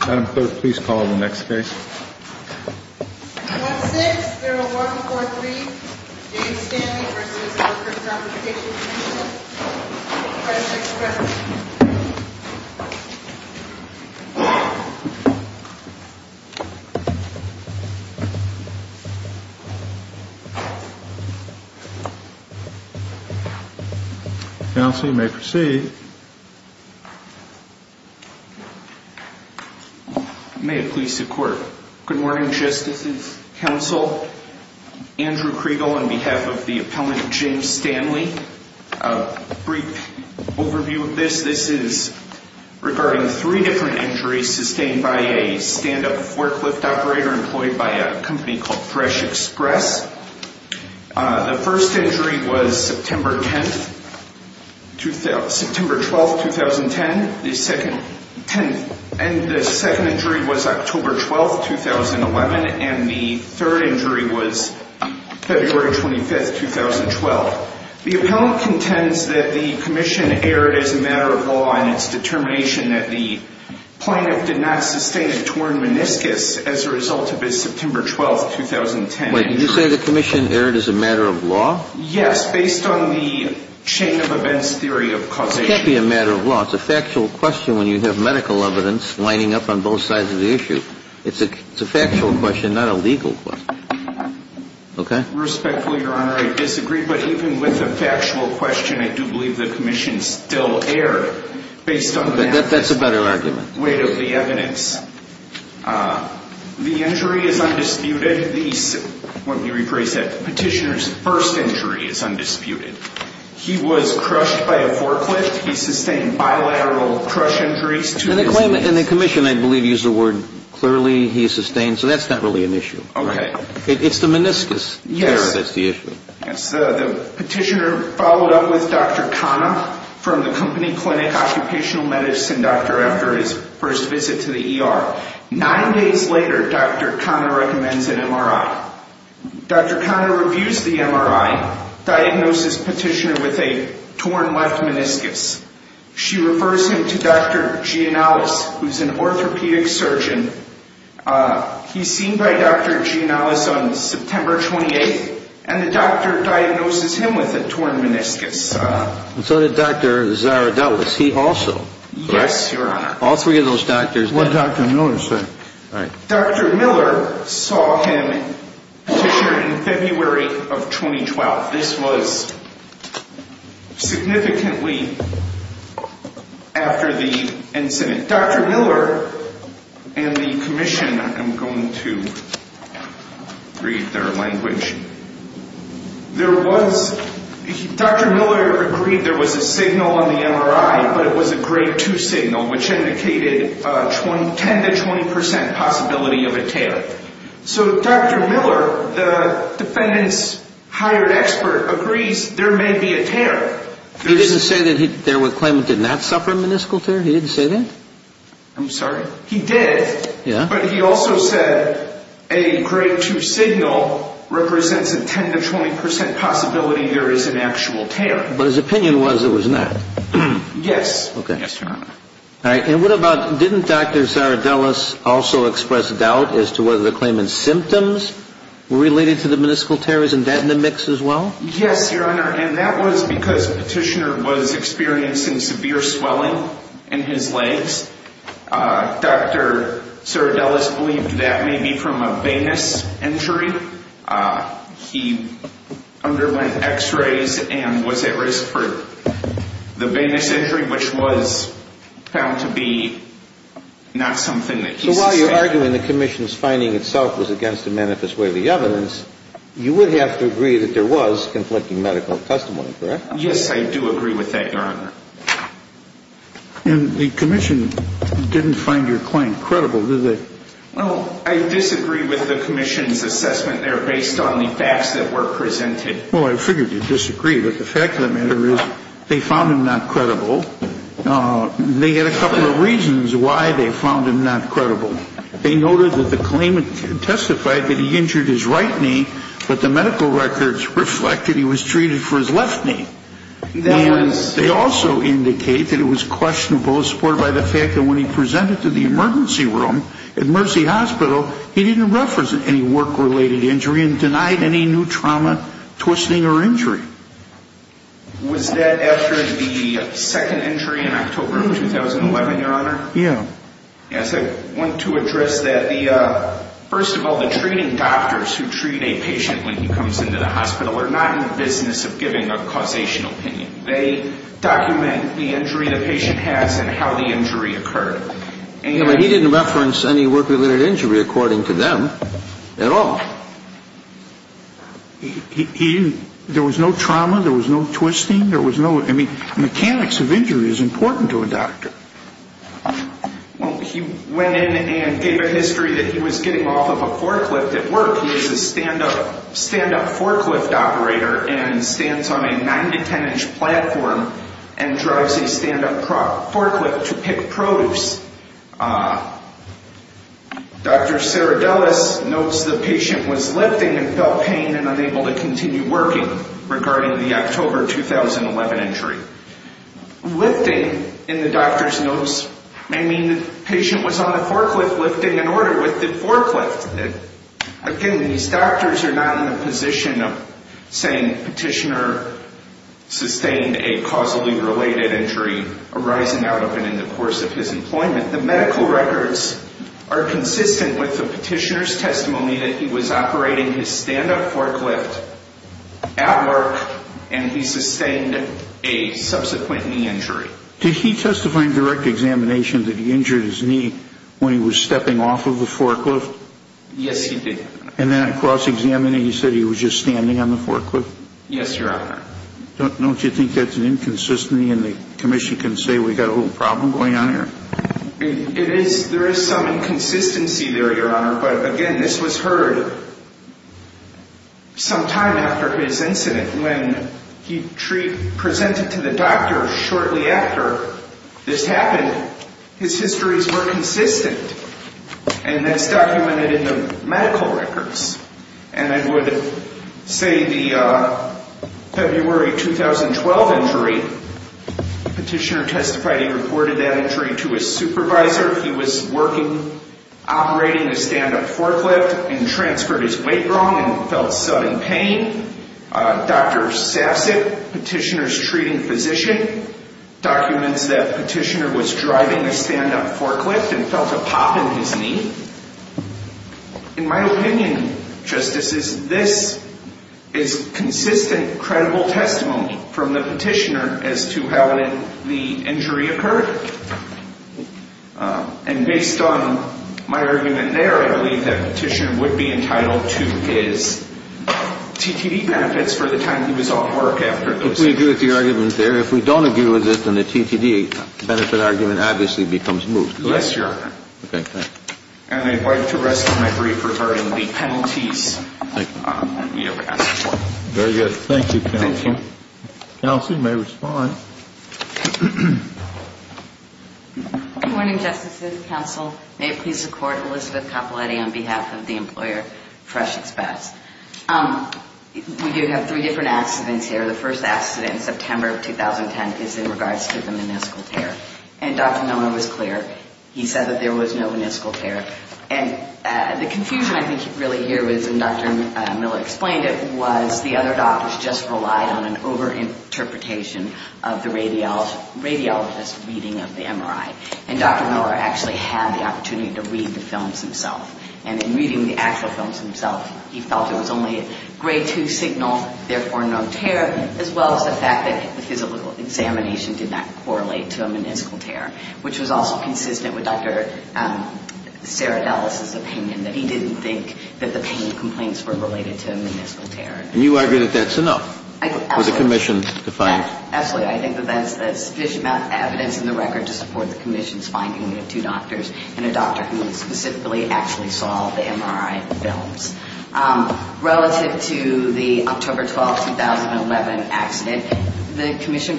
Adam Clerk, please call the next case. 1-6-0143 James Stanley v. Workers' Compensation Comm'n Counsel, you may proceed. May it please the Court. Good morning, Justices, Counsel. Andrew Kriegel on behalf of the appellant James Stanley. A brief overview of this. This is regarding three different injuries sustained by a stand-up forklift operator employed by a company called Thresh Express. The first injury was September 10th, 2010. The second injury was October 12th, 2011. And the third injury was February 25th, 2012. The appellant contends that the commission erred as a matter of law in its determination that the plaintiff did not sustain a torn meniscus as a result of his September 12th, 2010 injury. Wait, did you say the commission erred as a matter of law? Yes, based on the chain of events theory of causation. It can't be a matter of law. It's a factual question when you have medical evidence lining up on both sides of the issue. It's a factual question, not a legal question. Okay? Respectfully, Your Honor, I disagree. But even with a factual question, I do believe the commission still erred based on the fact. That's a better argument. Weight of the evidence. The injury is undisputed. Let me rephrase that. Petitioner's first injury is undisputed. He was crushed by a forklift. He sustained bilateral crush injuries. And the commission, I believe, used the word clearly. He sustained. So that's not really an issue. Okay. It's the meniscus. Yes. That's the issue. Yes. The petitioner followed up with Dr. Khanna from the company clinic, occupational medicine doctor, after his first visit to the ER. Nine days later, Dr. Khanna recommends an MRI. Dr. Khanna reviews the MRI, diagnoses petitioner with a torn left meniscus. She refers him to Dr. Gianalis, who's an orthopedic surgeon. He's seen by Dr. Gianalis on September 28th, and the doctor diagnoses him with a torn meniscus. And so did Dr. Zaradoulis. He also. Yes, Your Honor. All three of those doctors. What did Dr. Miller say? Dr. Miller saw him petitioner in February of 2012. This was significantly after the incident. Dr. Miller and the commission, I'm going to read their language. There was, Dr. Miller agreed there was a signal on the MRI, but it was a grade 2 signal, which indicated 10 to 20 percent possibility of a tear. So Dr. Miller, the defendant's hired expert, agrees there may be a tear. He didn't say that there was claimant did not suffer a meniscal tear? He didn't say that? I'm sorry? He did. Yeah? But he also said a grade 2 signal represents a 10 to 20 percent possibility there is an actual tear. But his opinion was it was not. Yes. Okay. Yes, Your Honor. All right. And what about, didn't Dr. Zaradoulis also express doubt as to whether the claimant's symptoms were related to the meniscal tear? Isn't that in the mix as well? Yes, Your Honor. And that was because petitioner was experiencing severe swelling in his legs. Dr. Zaradoulis believed that may be from a venous injury. He underwent x-rays and was at risk for the venous injury, which was found to be not something that he suspected. So while you're arguing the commission's finding itself was against the manifest way of the evidence, you would have to agree that there was conflicting medical testimony, correct? Yes, I do agree with that, Your Honor. And the commission didn't find your claim credible, did they? Well, I disagree with the commission's assessment there based on the facts that were presented. Well, I figured you'd disagree. But the fact of the matter is they found him not credible. They had a couple of reasons why they found him not credible. They noted that the claimant testified that he injured his right knee, but the medical records reflected he was treated for his left knee. And they also indicate that it was questionable, supported by the fact that when he presented to the emergency room at Mercy Hospital, he didn't reference any work-related injury and denied any new trauma, twisting, or injury. Was that after the second injury in October of 2011, Your Honor? Yes. I want to address that. First of all, the treating doctors who treat a patient when he comes into the hospital are not in the business of giving a causational opinion. They document the injury the patient has and how the injury occurred. He didn't reference any work-related injury, according to them, at all. There was no trauma. There was no twisting. There was no ñ I mean, mechanics of injury is important to a doctor. He went in and gave a history that he was getting off of a forklift at work. He is a stand-up forklift operator and stands on a 9-to-10-inch platform and drives a stand-up forklift to pick produce. Dr. Serradellis notes the patient was lifting and felt pain and unable to continue working regarding the October 2011 injury. Lifting, in the doctor's notes, may mean the patient was on a forklift lifting an order with the forklift. Again, these doctors are not in the position of saying the petitioner sustained a causally-related injury arising out of and in the course of his employment. The medical records are consistent with the petitioner's testimony that he was operating his stand-up forklift at work and he sustained a subsequent knee injury. Did he testify in direct examination that he injured his knee when he was stepping off of the forklift? Yes, he did. And then at cross-examining, he said he was just standing on the forklift? Yes, Your Honor. Don't you think that's an inconsistency and the commission can say we've got a little problem going on here? It is ñ there is some inconsistency there, Your Honor, but again, this was heard some time after his incident when he presented to the doctor shortly after this happened. His histories were consistent, and that's documented in the medical records. And I would say the February 2012 injury, the petitioner testified he reported that injury to his supervisor. He was operating a stand-up forklift and transferred his weight wrong and felt sudden pain. Dr. Sassett, petitioner's treating physician, documents that petitioner was driving a stand-up forklift and felt a pop in his knee. In my opinion, Justices, this is consistent, credible testimony from the petitioner as to how the injury occurred. And based on my argument there, I believe that petitioner would be entitled to his TTD benefits for the time he was off work after this. If we agree with the argument there. If we don't agree with it, then the TTD benefit argument obviously becomes moot. Yes, Your Honor. Okay, thanks. And I'd like to rest my brief regarding the penalties. Thank you. You have asked for. Very good. Thank you, counsel. Thank you. Counsel, you may respond. Good morning, Justices, counsel. May it please the Court, Elizabeth Capoletti on behalf of the employer, Fresh Express. We do have three different accidents here. The first accident in September of 2010 is in regards to the meniscal tear. And Dr. Milner was clear. He said that there was no meniscal tear. And the confusion I think you really hear was, and Dr. Milner explained it, was the other doctors just relied on an over-interpretation of the radiologist's reading of the MRI. And Dr. Milner actually had the opportunity to read the films himself. And in reading the actual films himself, he felt it was only a grade 2 signal, therefore no tear, as well as the fact that the physical examination did not correlate to a meniscal tear, which was also consistent with Dr. Sarah Dulles's opinion, that he didn't think that the pain complaints were related to a meniscal tear. And you argue that that's enough for the commission to find? Absolutely. I think that that's sufficient evidence in the record to support the commission's finding of two doctors and a doctor who specifically actually saw the MRI films. Relative to the October 12, 2011 accident, the commission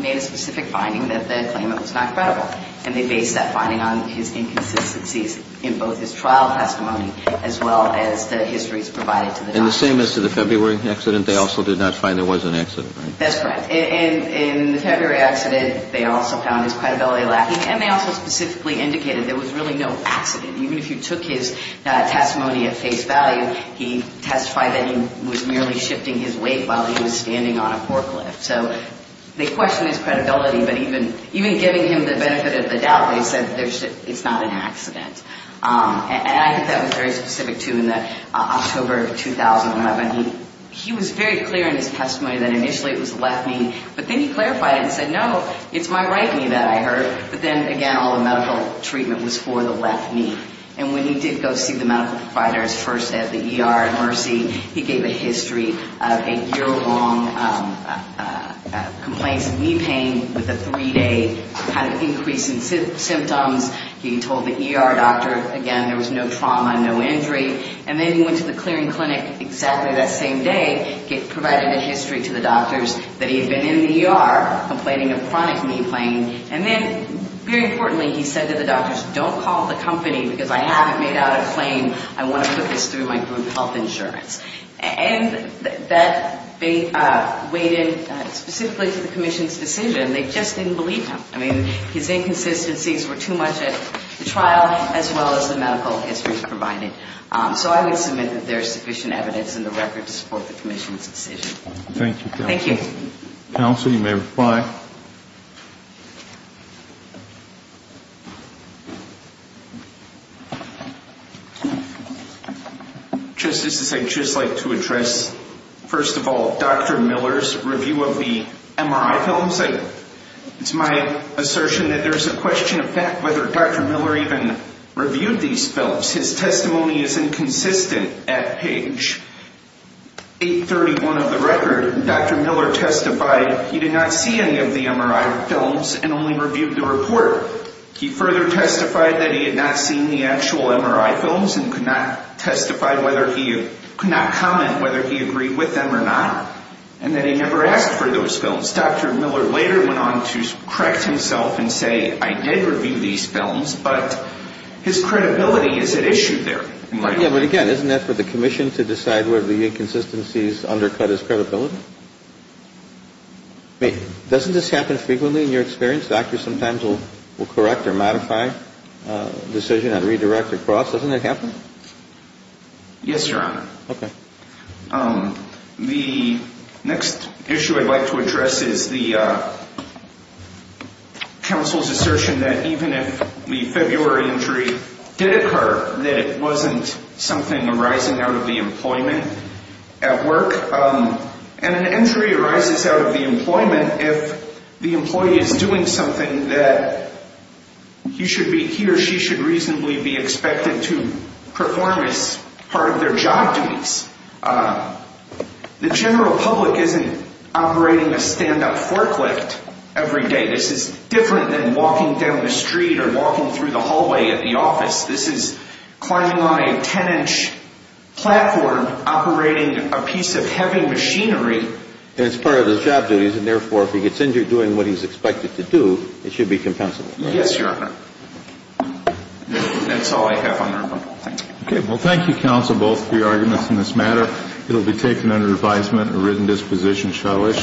made a specific finding that the claimant was not credible. And they based that finding on his inconsistencies in both his trial testimony as well as the histories provided to the doctor. And the same as to the February accident, they also did not find there was an accident, right? That's correct. In the February accident, they also found his credibility lacking, and they also specifically indicated there was really no accident. Even if you took his testimony at face value, he testified that he was merely shifting his weight while he was standing on a forklift. So they questioned his credibility, but even giving him the benefit of the doubt, they said it's not an accident. And I think that was very specific, too, in the October of 2011. He was very clear in his testimony that initially it was the left knee, but then he clarified it and said, no, it's my right knee that I hurt. But then, again, all the medical treatment was for the left knee. And when he did go see the medical providers first at the ER at Mercy, he gave a history of a year-long complaints of knee pain with a three-day kind of increase in symptoms. He told the ER doctor, again, there was no trauma, no injury. And then he went to the clearing clinic exactly that same day, provided a history to the doctors that he had been in the ER, complaining of chronic knee pain. And then, very importantly, he said to the doctors, don't call the company because I haven't made out a claim. I want to put this through my group health insurance. And that weighed in specifically to the commission's decision. They just didn't believe him. I mean, his inconsistencies were too much at the trial as well as the medical histories provided. So I would submit that there is sufficient evidence in the record to support the commission's decision. Thank you, counsel. Thank you. Counsel, you may reply. Justices, I'd just like to address, first of all, Dr. Miller's review of the MRI films. It's my assertion that there's a question of fact whether Dr. Miller even reviewed these films. His testimony is inconsistent at page 831 of the record. Dr. Miller testified he did not see any of the MRI films and only reviewed the report. He further testified that he had not seen the actual MRI films and could not comment whether he agreed with them or not, and that he never asked for those films. Dr. Miller later went on to correct himself and say, I did review these films, but his credibility is at issue there. Yeah, but again, isn't that for the commission to decide whether the inconsistencies undercut his credibility? I mean, doesn't this happen frequently in your experience? Doctors sometimes will correct or modify a decision, not redirect or cross. Doesn't that happen? Yes, Your Honor. Okay. The next issue I'd like to address is the counsel's assertion that even if the February injury did occur, that it wasn't something arising out of the employment at work. And an injury arises out of the employment if the employee is doing something that he should be, he or she should reasonably be expected to perform as part of their job duties. The general public isn't operating a stand-up forklift every day. This is different than walking down the street or walking through the hallway at the office. This is climbing on a 10-inch platform operating a piece of heavy machinery. And it's part of his job duties. And therefore, if he gets injured doing what he's expected to do, it should be compensable. Yes, Your Honor. That's all I have on that one. Okay. Well, thank you, counsel, both for your arguments in this matter. It will be taken under advisement and written disposition, shall I?